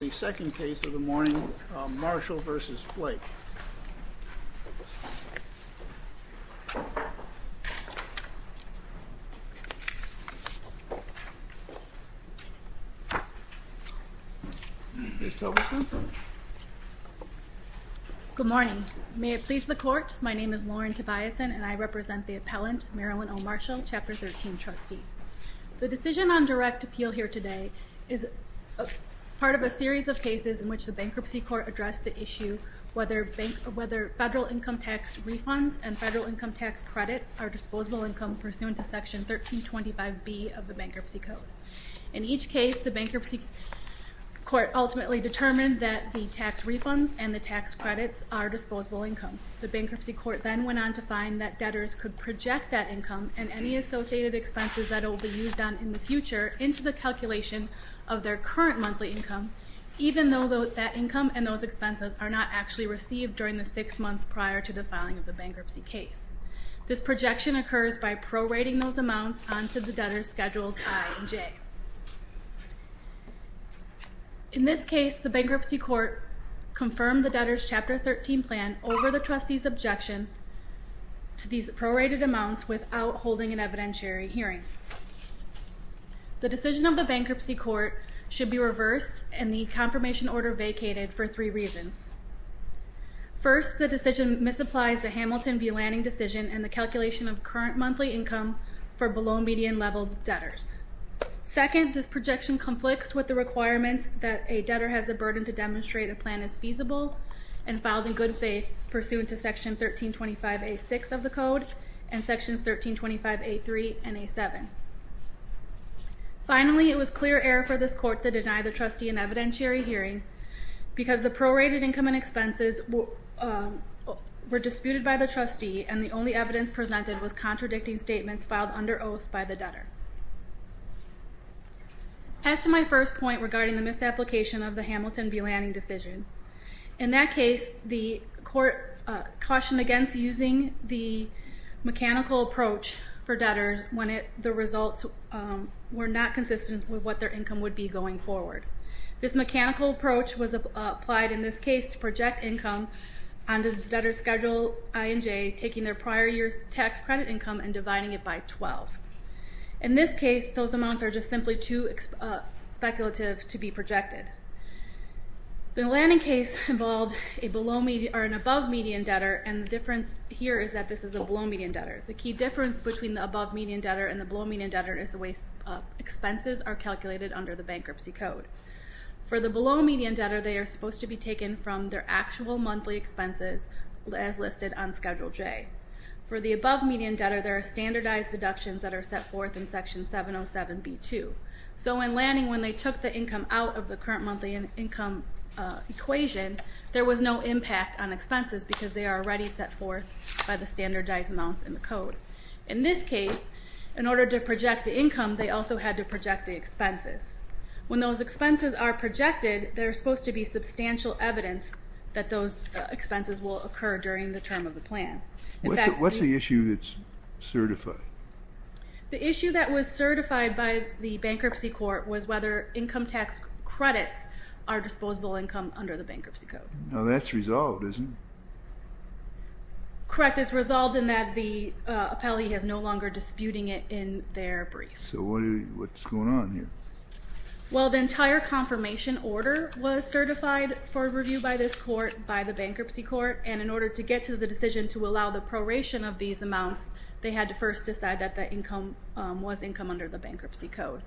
The second case of the morning, Marshall v. Blake. Good morning. May it please the court, my name is Lauren Tobiasen and I represent the appellant, Marilyn O. Marshall, Chapter 13 trustee. The decision on direct appeal here today is part of a series of cases in which the bankruptcy court addressed the issue whether federal income tax refunds and federal income tax credits are disposable income pursuant to Section 1325B of the Bankruptcy Code. In each case, the bankruptcy court ultimately determined that the tax refunds and the tax credits are disposable income. The bankruptcy court then went on to find that debtors could project that income and any associated expenses that it will be used on in the future into the calculation of their current monthly income, even though that income and those expenses are not actually received during the six months prior to the filing of the bankruptcy case. This projection occurs by prorating those amounts onto the debtor's Schedules I and J. In this case, the bankruptcy court confirmed the debtor's Chapter 13 plan over the trustee's objection to these prorated amounts without holding an evidentiary hearing. The decision of the bankruptcy court should be reversed and the confirmation order vacated for three reasons. First, the decision misapplies the Hamilton v. Lanning decision and the calculation of current monthly income for below median level debtors. Second, this projection conflicts with the requirements that a debtor has the burden to demonstrate a plan is feasible and filed in good faith pursuant to Section 1325A.6 of the Code and Sections 1325A.3 and A.7. Finally, it was clear error for this court to deny the trustee an evidentiary hearing because the prorated income and expenses were disputed by the trustee and the only evidence presented was contradicting statements filed under oath by the debtor. As to my first point regarding the misapplication of the Hamilton v. Lanning decision, in that case, the court cautioned against using the mechanical approach for debtors when the results were not consistent with what their income would be going forward. This mechanical approach was applied in this case to project income on the debtor's schedule I&J taking their prior year's tax credit income and dividing it by 12. In this case, those amounts are just simply too speculative to be projected. The Lanning case involved an above median debtor and the difference here is that this is a below median debtor. The key difference between the above median debtor and the below median debtor is the way expenses are calculated under the Bankruptcy Code. For the below median debtor, they are supposed to be taken from their actual monthly expenses as listed on Schedule J. For the above median debtor, there are standardized deductions that are set forth in Section 707B2. So in Lanning, when they took the income out of the current monthly income equation, there was no impact on expenses because they are already set forth by the standardized amounts in the code. In this case, in order to project the income, they also had to project the expenses. When those expenses are projected, there's supposed to be substantial evidence that those expenses will occur during the term of the plan. What's the issue that's certified? The issue that was certified by the Bankruptcy Court was whether income tax credits are disposable income under the Bankruptcy Code. Now that's resolved, isn't it? Correct, it's resolved in that the appellee has no longer disputing it in their brief. So what's going on here? Well, the entire confirmation order was certified for review by this court, by the Bankruptcy Court, and in order to get to the decision to allow the proration of these amounts, they had to first decide that the income was income under the Bankruptcy Code.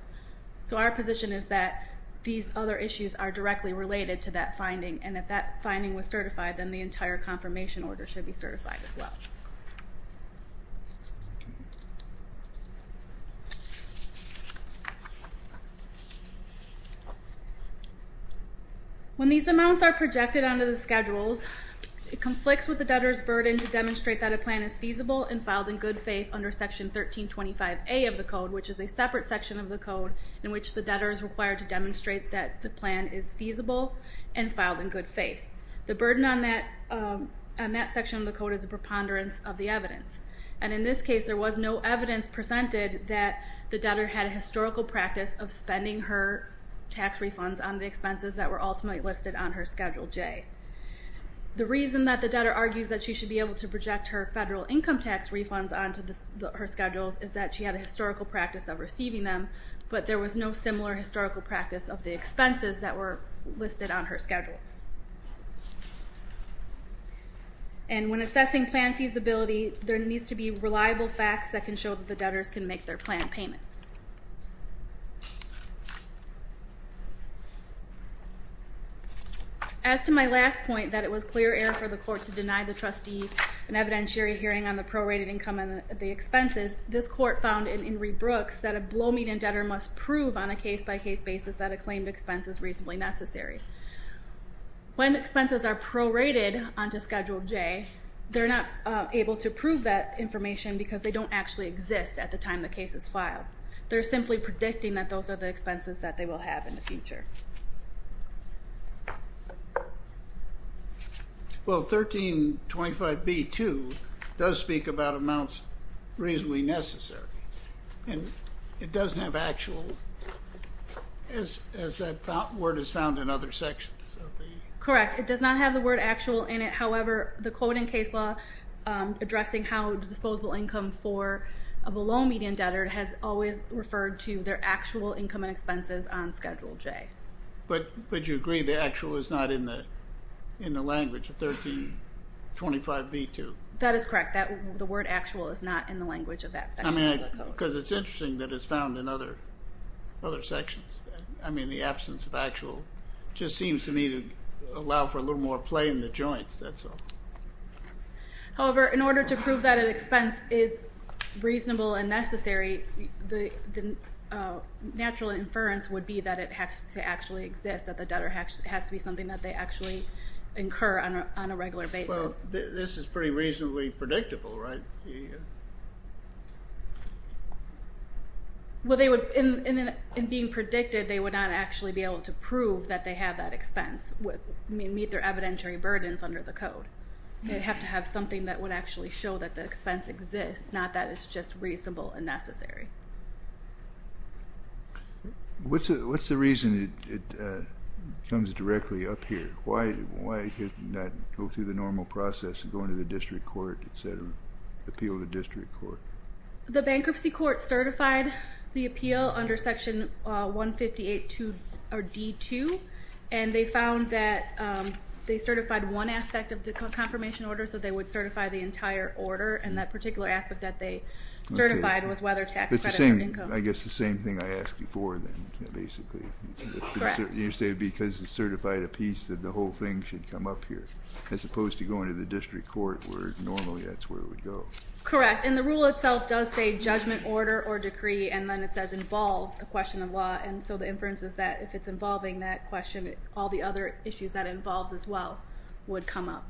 So our position is that these other issues are directly related to that finding, and if that finding was certified, then the entire confirmation order should be certified as well. When these amounts are projected onto the schedules, it conflicts with the debtor's burden to demonstrate that a plan is feasible and filed in good faith under Section 1325A of the Code, which is a separate section of the Code in which the debtor is required to demonstrate that the plan is feasible and filed in good faith. The burden on that section of the Code is a preponderance of the evidence, and in this case there was no evidence presented that the debtor had a historical practice of spending her tax refunds on the expenses that were ultimately listed on her Schedule J. The reason that the debtor argues that she should be able to project her federal income tax refunds onto her Schedules is that she had a historical practice of receiving them, but there was no similar historical practice of the expenses that were listed on her Schedules. And when assessing plan feasibility, there needs to be reliable facts that can show that the debtors can make their plan payments. As to my last point, that it was clear air for the court to deny the trustee an evidentiary hearing on the prorated income and the expenses, this court found in Inree Brooks that a blow-meat-and-debtor must prove on a case-by-case basis that a claimed expense is reasonably necessary. When expenses are prorated onto Schedule J, they're not able to prove that information because they don't actually exist at the time the case is filed. They're simply predicting that those are the expenses that they will have in the future. Well, 1325B2 does speak about amounts reasonably necessary, and it doesn't have actual, as that word is found in other sections. Correct. It does not have the word actual in it. However, the coding case law addressing how disposable income for a blow-meat-and-debtor has always referred to their actual income and expenses on Schedule J. But you agree the actual is not in the language of 1325B2? That is correct. The word actual is not in the language of that section of the code. Because it's interesting that it's found in other sections. I mean, the absence of actual just seems to me to allow for a little more play in the joints. However, in order to prove that an expense is reasonable and necessary, the natural inference would be that it has to actually exist, that the debtor has to be something that they actually incur on a regular basis. Well, this is pretty reasonably predictable, right? Well, in being predicted, they would not actually be able to prove that they have that expense, meet their evidentiary burdens under the code. They'd have to have something that would actually show that the expense exists, not that it's just reasonable and necessary. What's the reason it comes directly up here? Why did it not go through the normal process of going to the district court, instead of appeal to district court? The bankruptcy court certified the appeal under Section 158D2, and they found that they certified one aspect of the confirmation order, so they would certify the entire order, and that particular aspect that they certified was whether tax credit or income. I guess it's the same thing I asked before, then, basically. Correct. You say because it certified a piece that the whole thing should come up here, as opposed to going to the district court, where normally that's where it would go. Correct. And the rule itself does say judgment, order, or decree, and then it says involves a question of law. And so the inference is that if it's involving that question, all the other issues that it involves as well would come up.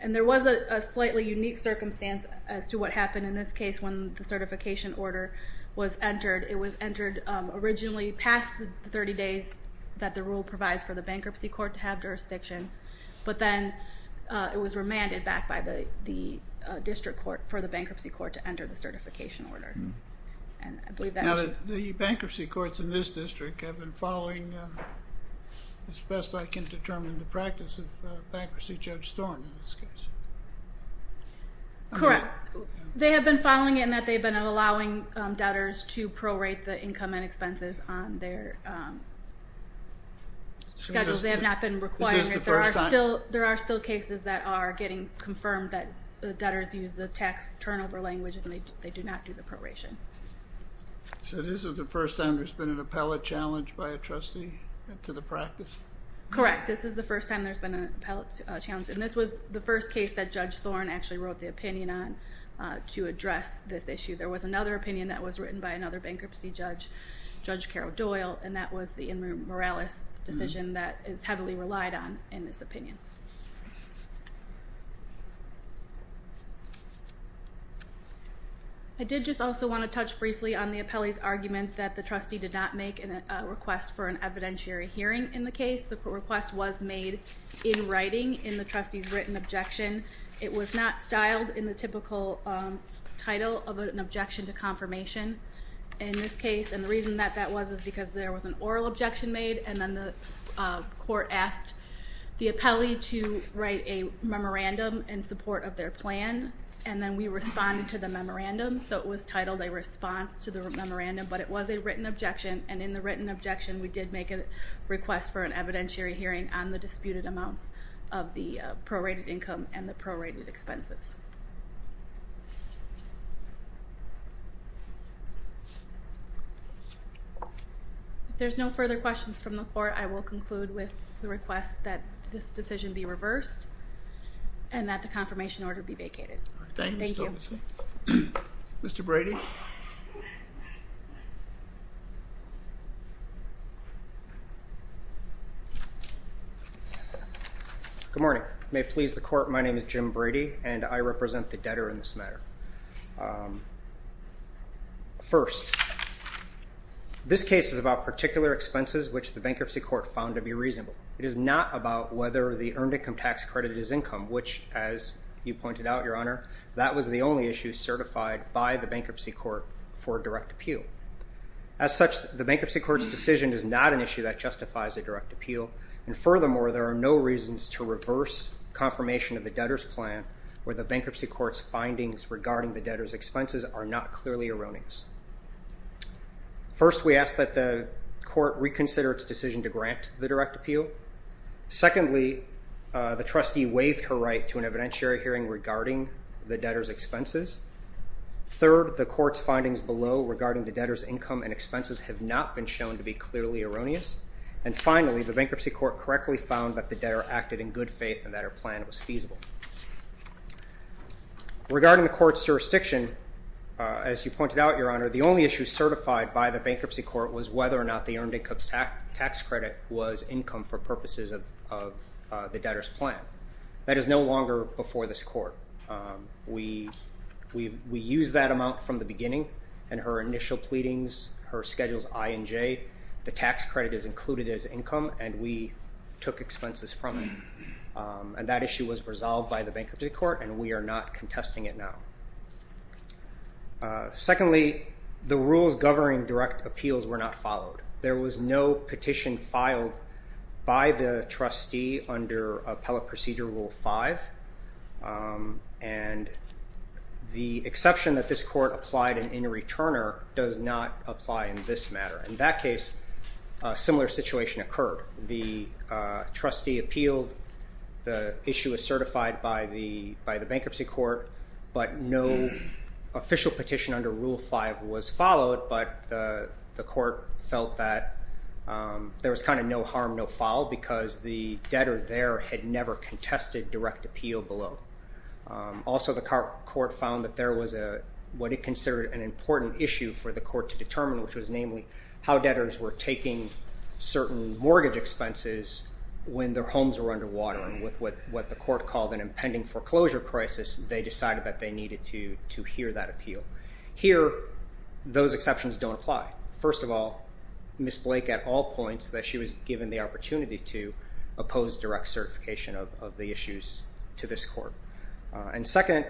And there was a slightly unique circumstance as to what happened in this case when the certification order was entered. It was entered originally past the 30 days that the rule provides for the bankruptcy court to have jurisdiction, but then it was remanded back by the district court for the bankruptcy court to enter the certification order. Now, the bankruptcy courts in this district have been following, as best I can determine the practice of bankruptcy, Judge Thorne in this case. Correct. They have been following it in that they've been allowing debtors to prorate the income and expenses on their schedules. They have not been requiring it. Is this the first time? There are still cases that are getting confirmed that debtors use the tax turnover language and they do not do the proration. So this is the first time there's been an appellate challenge by a trustee to the practice? Correct. This is the first time there's been an appellate challenge, and this was the first case that Judge Thorne actually wrote the opinion on to address this issue. There was another opinion that was written by another bankruptcy judge, Judge Carol Doyle, and that was the Morales decision that is heavily relied on in this opinion. I did just also want to touch briefly on the appellee's argument that the trustee did not make a request for an evidentiary hearing in the case. The request was made in writing in the trustee's written objection. It was not styled in the typical title of an objection to confirmation in this case, and the reason that that was is because there was an oral objection made, and then the court asked the appellee to write a memorandum in support of their plan, and then we responded to the memorandum. So it was titled a response to the memorandum, but it was a written objection, and in the written objection we did make a request for an evidentiary hearing on the disputed amounts of the prorated income and the prorated expenses. If there's no further questions from the court, I will conclude with the request that this decision be reversed and that the confirmation order be vacated. Thank you. Mr. Brady. Good morning. May it please the court, my name is Jim Brady, and I represent the debtor in this matter. First, this case is about particular expenses which the bankruptcy court found to be reasonable. It is not about whether the earned income tax credit is income, which as you pointed out, Your Honor, that was the only issue certified by the bankruptcy court for direct appeal. As such, the bankruptcy court's decision is not an issue that justifies a direct appeal, and furthermore, there are no reasons to reverse confirmation of the debtor's plan where the bankruptcy court's findings regarding the debtor's expenses are not clearly erroneous. First, we ask that the court reconsider its decision to grant the direct appeal. Secondly, the trustee waived her right to an evidentiary hearing regarding the debtor's expenses. Third, the court's findings below regarding the debtor's income and expenses have not been shown to be clearly erroneous. And finally, the bankruptcy court correctly found that the debtor acted in good faith and that her plan was feasible. Regarding the court's jurisdiction, as you pointed out, Your Honor, the only issue certified by the bankruptcy court was whether or not the earned income tax credit was income for purposes of the debtor's plan. That is no longer before this court. We used that amount from the beginning, and her initial pleadings, her schedules I and J, the tax credit is included as income, and we took expenses from it. And that issue was resolved by the bankruptcy court, and we are not contesting it now. Secondly, the rules governing direct appeals were not followed. There was no petition filed by the trustee under Appellate Procedure Rule 5, and the exception that this court applied in any returner does not apply in this matter. In that case, a similar situation occurred. The trustee appealed. The issue was certified by the bankruptcy court, but no official petition under Rule 5 was followed, but the court felt that there was kind of no harm no foul because the debtor there had never contested direct appeal below. Also, the court found that there was what it considered an important issue for the court to determine, which was namely how debtors were taking certain mortgage expenses when their homes were underwater, and with what the court called an impending foreclosure crisis, they decided that they needed to hear that appeal. Here, those exceptions don't apply. First of all, Ms. Blake, at all points, that she was given the opportunity to oppose direct certification of the issues to this court. And second,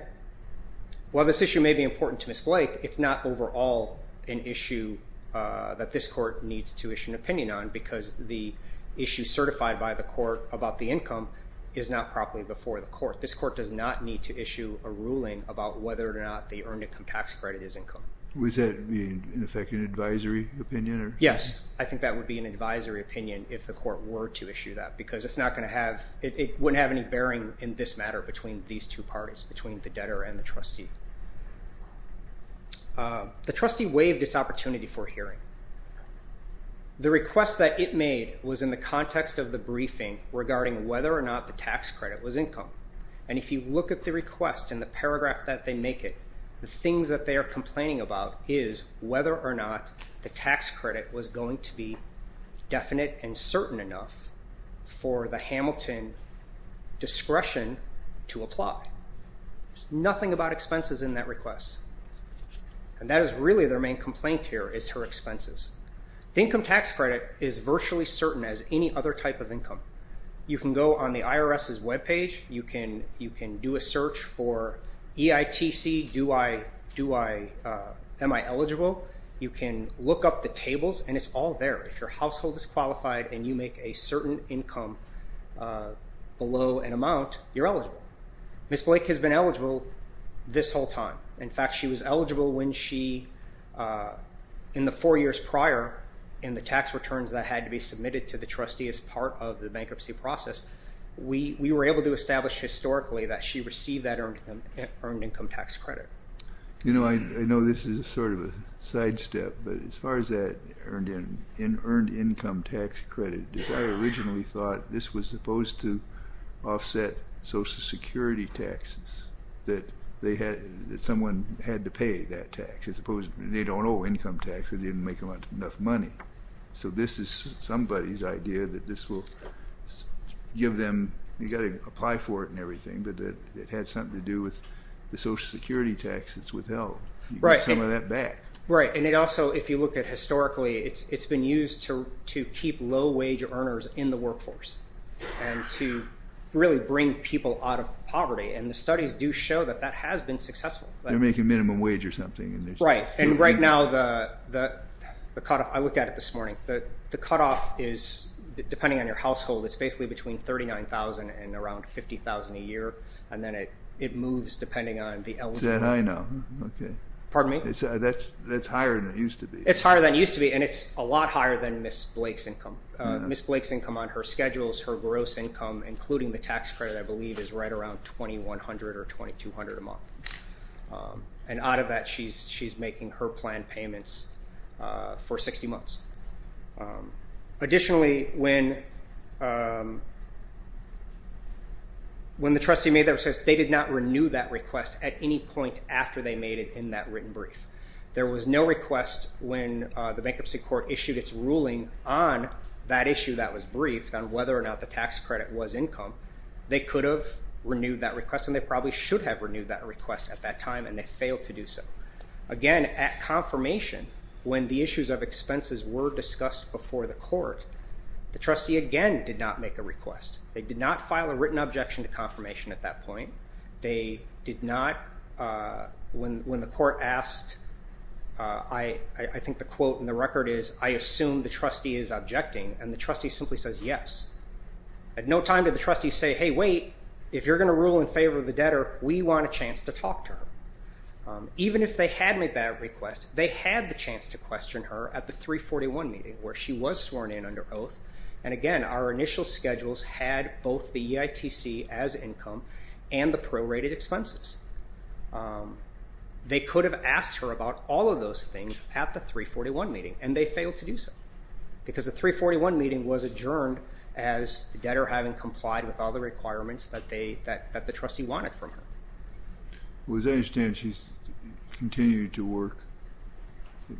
while this issue may be important to Ms. Blake, it's not overall an issue that this court needs to issue an opinion on because the issue certified by the court about the income is not properly before the court. This court does not need to issue a ruling about whether or not the earned income tax credit is income. Was that, in effect, an advisory opinion? Yes, I think that would be an advisory opinion if the court were to issue that because it wouldn't have any bearing in this matter between these two parties, between the debtor and the trustee. The trustee waived its opportunity for hearing. The request that it made was in the context of the briefing regarding whether or not the tax credit was income. And if you look at the request in the paragraph that they make it, the things that they are complaining about is whether or not the tax credit was going to be definite and certain enough for the Hamilton discretion to apply. There's nothing about expenses in that request. And that is really their main complaint here is her expenses. The income tax credit is virtually certain as any other type of income. You can go on the IRS's web page. You can do a search for EITC, am I eligible? You can look up the tables, and it's all there. If your household is qualified and you make a certain income below an amount, you're eligible. Ms. Blake has been eligible this whole time. In fact, she was eligible when she, in the four years prior, in the tax returns that had to be submitted to the trustee as part of the bankruptcy process, we were able to establish historically that she received that earned income tax credit. You know, I know this is sort of a sidestep, but as far as that earned income tax credit, I originally thought this was supposed to offset Social Security taxes, that someone had to pay that tax. They don't owe income taxes. They didn't make enough money. So this is somebody's idea that this will give them, you've got to apply for it and everything, but it had something to do with the Social Security taxes withheld. You get some of that back. Right, and it also, if you look at historically, it's been used to keep low-wage earners in the workforce and to really bring people out of poverty, and the studies do show that that has been successful. They're making minimum wage or something. Right, and right now the cutoff, I looked at it this morning, the cutoff is, depending on your household, it's basically between $39,000 and around $50,000 a year, and then it moves depending on the eligible. Is that high now? Okay. Pardon me? That's higher than it used to be. It's higher than it used to be, and it's a lot higher than Ms. Blake's income. Ms. Blake's income on her schedules, her gross income, including the tax credit, I believe, is right around $2,100 or $2,200 a month, and out of that she's making her planned payments for 60 months. Additionally, when the trustee made that request, they did not renew that request at any point after they made it in that written brief. There was no request when the Bankruptcy Court issued its ruling on that issue that was briefed on whether or not the tax credit was income. They could have renewed that request, and they probably should have renewed that request at that time, and they failed to do so. Again, at confirmation, when the issues of expenses were discussed before the court, the trustee, again, did not make a request. They did not file a written objection to confirmation at that point. They did not, when the court asked, I think the quote in the record is, I assume the trustee is objecting, and the trustee simply says yes. At no time did the trustee say, hey, wait, if you're going to rule in favor of the debtor, we want a chance to talk to her. Even if they had made that request, they had the chance to question her at the 341 meeting, where she was sworn in under oath, and again, our initial schedules had both the EITC as income and the prorated expenses. They could have asked her about all of those things at the 341 meeting, and they failed to do so, because the 341 meeting was adjourned as the debtor having complied with all the requirements that the trustee wanted from her. Well, as I understand, she's continuing to work.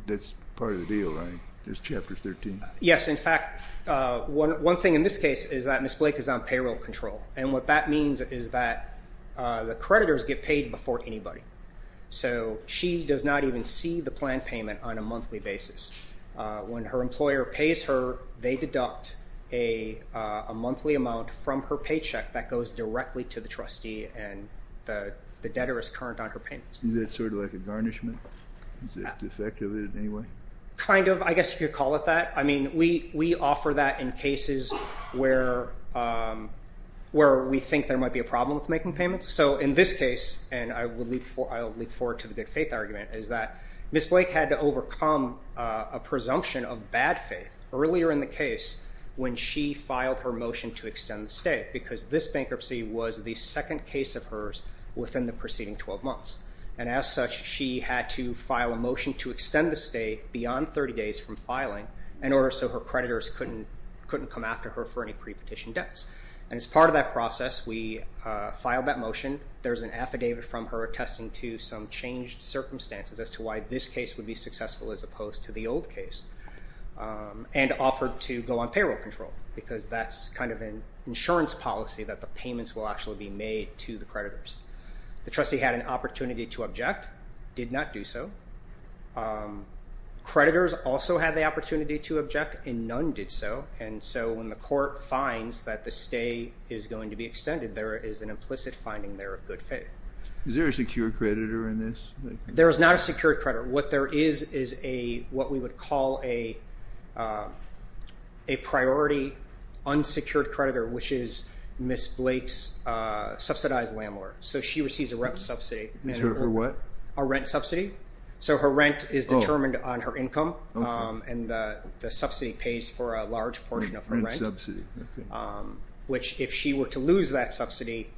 That's part of the deal, right? There's Chapter 13. Yes, in fact, one thing in this case is that Ms. Blake is on payroll control, and what that means is that the creditors get paid before anybody. So she does not even see the planned payment on a monthly basis. When her employer pays her, they deduct a monthly amount from her paycheck that goes directly to the trustee, and the debtor is current on her payments. Is that sort of like a garnishment? Is that defective in any way? Kind of, I guess you could call it that. I mean, we offer that in cases where we think there might be a problem with making payments. So in this case, and I'll leap forward to the good faith argument, is that Ms. Blake had to overcome a presumption of bad faith earlier in the case when she filed her motion to extend the stay because this bankruptcy was the second case of hers within the preceding 12 months. And as such, she had to file a motion to extend the stay beyond 30 days from filing in order so her creditors couldn't come after her for any pre-petition debts. And as part of that process, we filed that motion. There's an affidavit from her attesting to some changed circumstances as to why this case would be successful as opposed to the old case, and offered to go on payroll control because that's kind of an insurance policy that the payments will actually be made to the creditors. The trustee had an opportunity to object, did not do so. Creditors also had the opportunity to object, and none did so. And so when the court finds that the stay is going to be extended, there is an implicit finding there of good faith. Is there a secure creditor in this? There is not a secure creditor. What there is is what we would call a priority unsecured creditor, which is Ms. Blake's subsidized landlord. So she receives a rent subsidy. A what? A rent subsidy. So her rent is determined on her income, and the subsidy pays for a large portion of her rent, which if she were to lose that subsidy,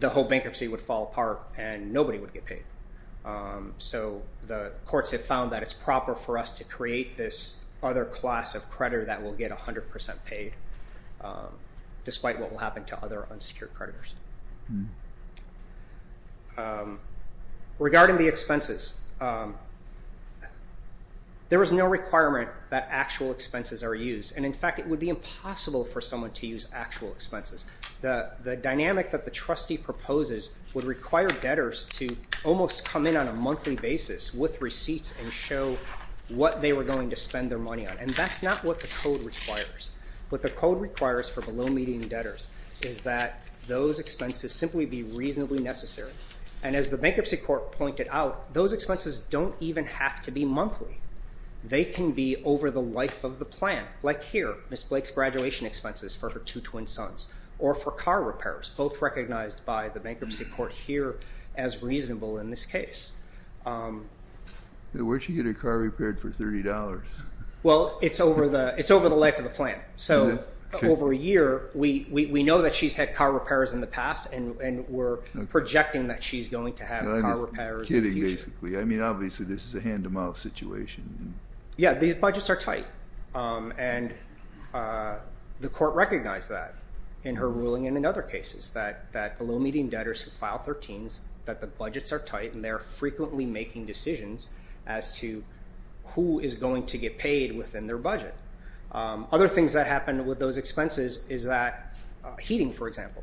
the whole bankruptcy would fall apart, and nobody would get paid. So the courts have found that it's proper for us to create this other class of creditor that will get 100% paid, despite what will happen to other unsecured creditors. Regarding the expenses, there is no requirement that actual expenses are used, and in fact it would be impossible for someone to use actual expenses. The dynamic that the trustee proposes would require debtors to almost come in on a monthly basis with receipts and show what they were going to spend their money on, and that's not what the code requires. What the code requires for below-median debtors is that those expenses simply be reasonably necessary. And as the Bankruptcy Court pointed out, those expenses don't even have to be monthly. They can be over the life of the plan, like here, Ms. Blake's graduation expenses for her two twin sons, or for car repairs, both recognized by the Bankruptcy Court here as reasonable in this case. Where'd she get her car repaired for $30? Well, it's over the life of the plan. So over a year, we know that she's had car repairs in the past, and we're projecting that she's going to have car repairs in the future. I'm just kidding, basically. I mean, obviously, this is a hand-to-mouth situation. Yeah, these budgets are tight, and the Court recognized that in her ruling and in other cases, that below-median debtors who file 13s, that the budgets are tight, and they're frequently making decisions as to who is going to get paid within their budget. Other things that happen with those expenses is that heating, for example.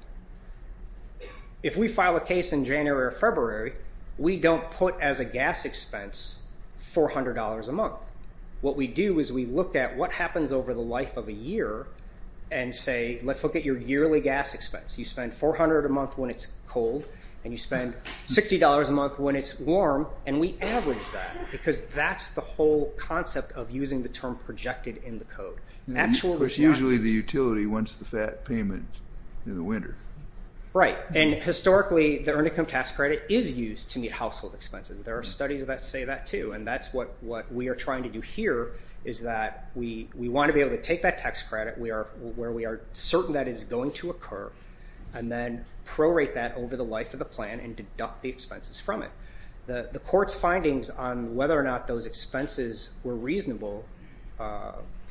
If we file a case in January or February, we don't put as a gas expense $400 a month. What we do is we look at what happens over the life of a year and say, let's look at your yearly gas expense. You spend $400 a month when it's cold, and you spend $60 a month when it's warm, and we average that, because that's the whole concept of using the term projected in the code. There's usually the utility once the FAT payment in the winter. Right, and historically, the Earned Income Tax Credit is used to meet household expenses. There are studies that say that, too, and that's what we are trying to do here is that we want to be able to take that tax credit where we are certain that it's going to occur and then prorate that over the life of the plan and deduct the expenses from it. The Court's findings on whether or not those expenses were reasonable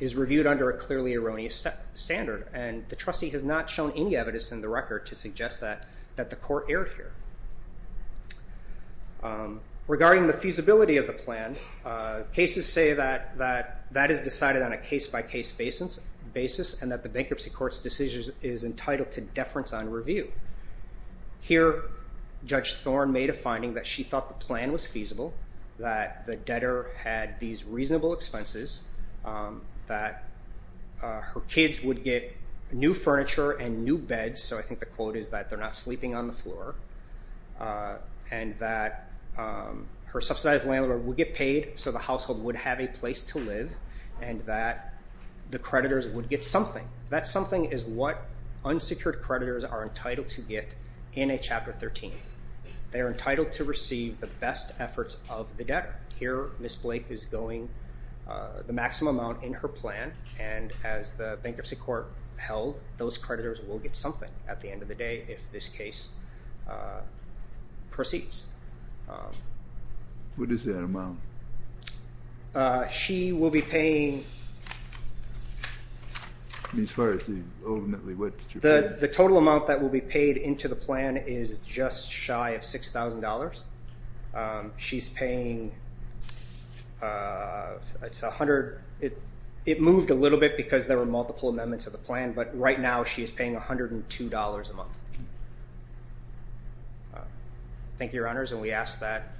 is reviewed under a clearly erroneous standard, and the trustee has not shown any evidence in the record to suggest that the Court erred here. Regarding the feasibility of the plan, cases say that that is decided on a case-by-case basis and that the Bankruptcy Court's decision is entitled to deference on review. Here, Judge Thorne made a finding that she thought the plan was feasible, that the debtor had these reasonable expenses, that her kids would get new furniture and new beds, so I think the quote is that they're not sleeping on the floor, and that her subsidized landlord would get paid so the household would have a place to live, and that the creditors would get something. That something is what unsecured creditors are entitled to get in a Chapter 13. They are entitled to receive the best efforts of the debtor. Here, Ms. Blake is going the maximum amount in her plan, and as the Bankruptcy Court held, those creditors will get something at the end of the day if this case proceeds. What is that amount? She will be paying... As far as the overnightly... The total amount that will be paid into the plan is just shy of $6,000. She's paying... It moved a little bit because there were multiple amendments of the plan, but right now she is paying $102 a month. Thank you, Your Honors, and we ask that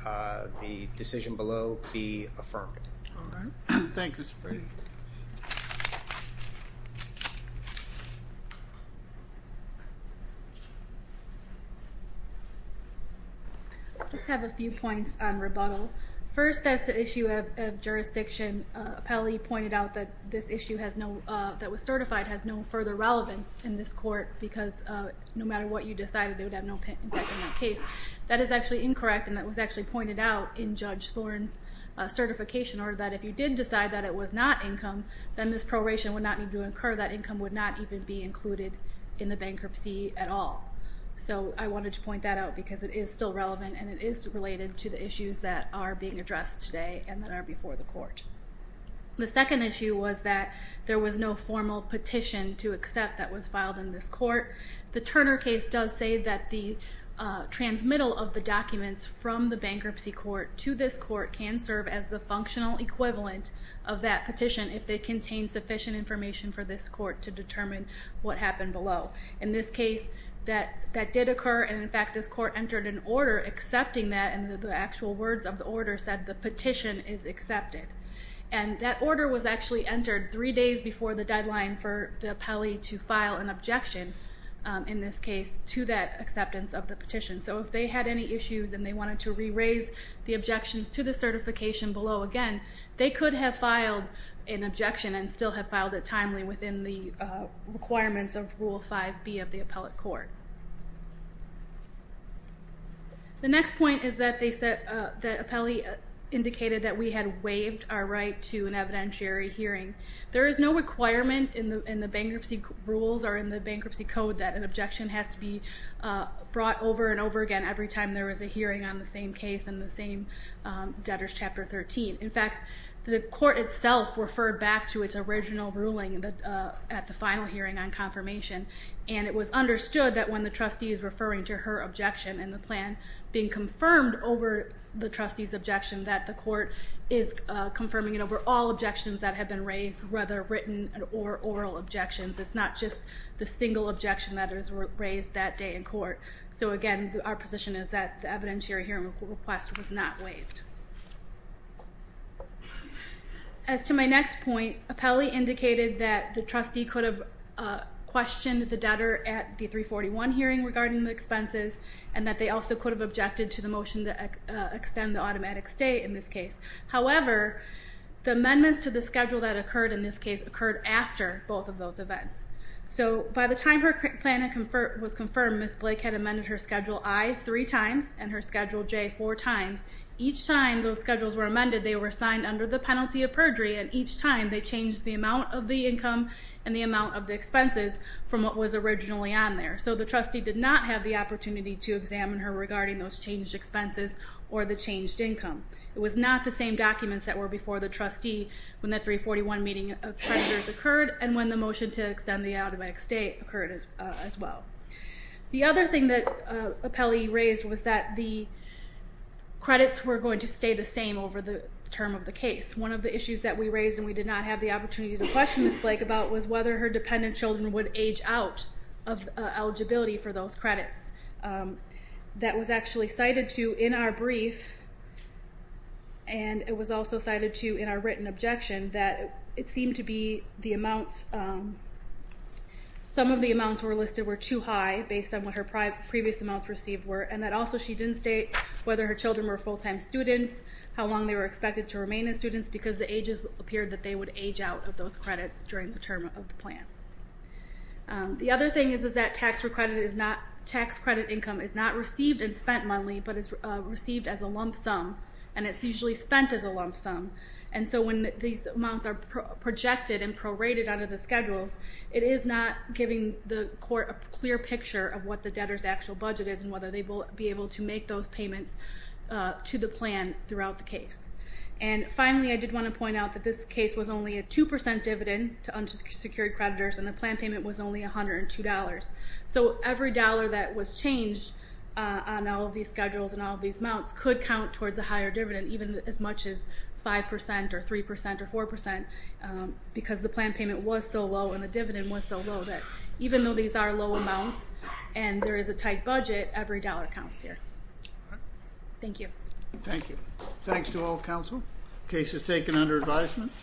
the decision below be affirmed. All right. Thank you, Mr. Brady. I just have a few points on rebuttal. First, as to issue of jurisdiction, Appellee pointed out that this issue that was certified has no further relevance in this court because no matter what you decided, it would have no impact on that case. That is actually incorrect, and that was actually pointed out in Judge Thorne's certification order that if you did decide that it was not income, then this proration would not need to incur. That income would not even be included in the bankruptcy at all. So I wanted to point that out because it is still relevant, and it is related to the issues that are being addressed today and that are before the court. The second issue was that there was no formal petition to accept that was filed in this court. The Turner case does say that the transmittal of the documents from the bankruptcy court to this court can serve as the functional equivalent of that petition if they contain sufficient information for this court to determine what happened below. In this case, that did occur, and in fact this court entered an order accepting that, and the actual words of the order said, the petition is accepted. And that order was actually entered three days before the deadline for the appellee to file an objection, in this case, to that acceptance of the petition. So if they had any issues and they wanted to re-raise the objections to the certification below again, they could have filed an objection and still have filed it timely within the requirements of Rule 5B of the appellate court. The next point is that the appellee indicated that we had waived our right to an evidentiary hearing. There is no requirement in the bankruptcy rules or in the bankruptcy code that an objection has to be brought over and over again every time there is a hearing on the same case and the same debtors Chapter 13. In fact, the court itself referred back to its original ruling at the final hearing on confirmation, and it was understood that when the trustee is referring to her objection in the plan, being confirmed over the trustee's objection, that the court is confirming it over all objections that have been raised, whether written or oral objections. It's not just the single objection that was raised that day in court. So again, our position is that the evidentiary hearing request was not waived. As to my next point, appellee indicated that the trustee could have questioned the debtor at the 341 hearing regarding the expenses and that they also could have objected to the motion to extend the automatic stay in this case. However, the amendments to the schedule that occurred in this case occurred after both of those events. So by the time her plan was confirmed, Ms. Blake had amended her schedule I three times and her schedule J four times, each time those schedules were amended, they were signed under the penalty of perjury, and each time they changed the amount of the income and the amount of the expenses from what was originally on there. So the trustee did not have the opportunity to examine her regarding those changed expenses or the changed income. It was not the same documents that were before the trustee when the 341 meeting of treasurers occurred and when the motion to extend the automatic stay occurred as well. The other thing that appellee raised was that the credits were going to stay the same over the term of the case. One of the issues that we raised, and we did not have the opportunity to question Ms. Blake about, was whether her dependent children would age out of eligibility for those credits. That was actually cited to in our brief, and it was also cited to in our written objection that it seemed to be the amounts, some of the amounts were listed were too high based on what her previous amounts received were, and that also she didn't state whether her children were full-time students, how long they were expected to remain as students, because the ages appeared that they would age out of those credits during the term of the plan. The other thing is that tax credit income is not received and spent monthly, but is received as a lump sum, and it's usually spent as a lump sum. And so when these amounts are projected and prorated out of the schedules, it is not giving the court a clear picture of what the debtor's actual budget is and whether they will be able to make those payments to the plan throughout the case. And finally, I did want to point out that this case was only a 2% dividend to unsecured creditors, and the plan payment was only $102. So every dollar that was changed on all of these schedules and all of these amounts could count towards a higher dividend, even as much as 5% or 3% or 4%, because the plan payment was so low and the dividend was so low that even though these are low amounts and there is a tight budget, every dollar counts here. Thank you. Thank you. Thanks to all counsel. Case is taken under advisement.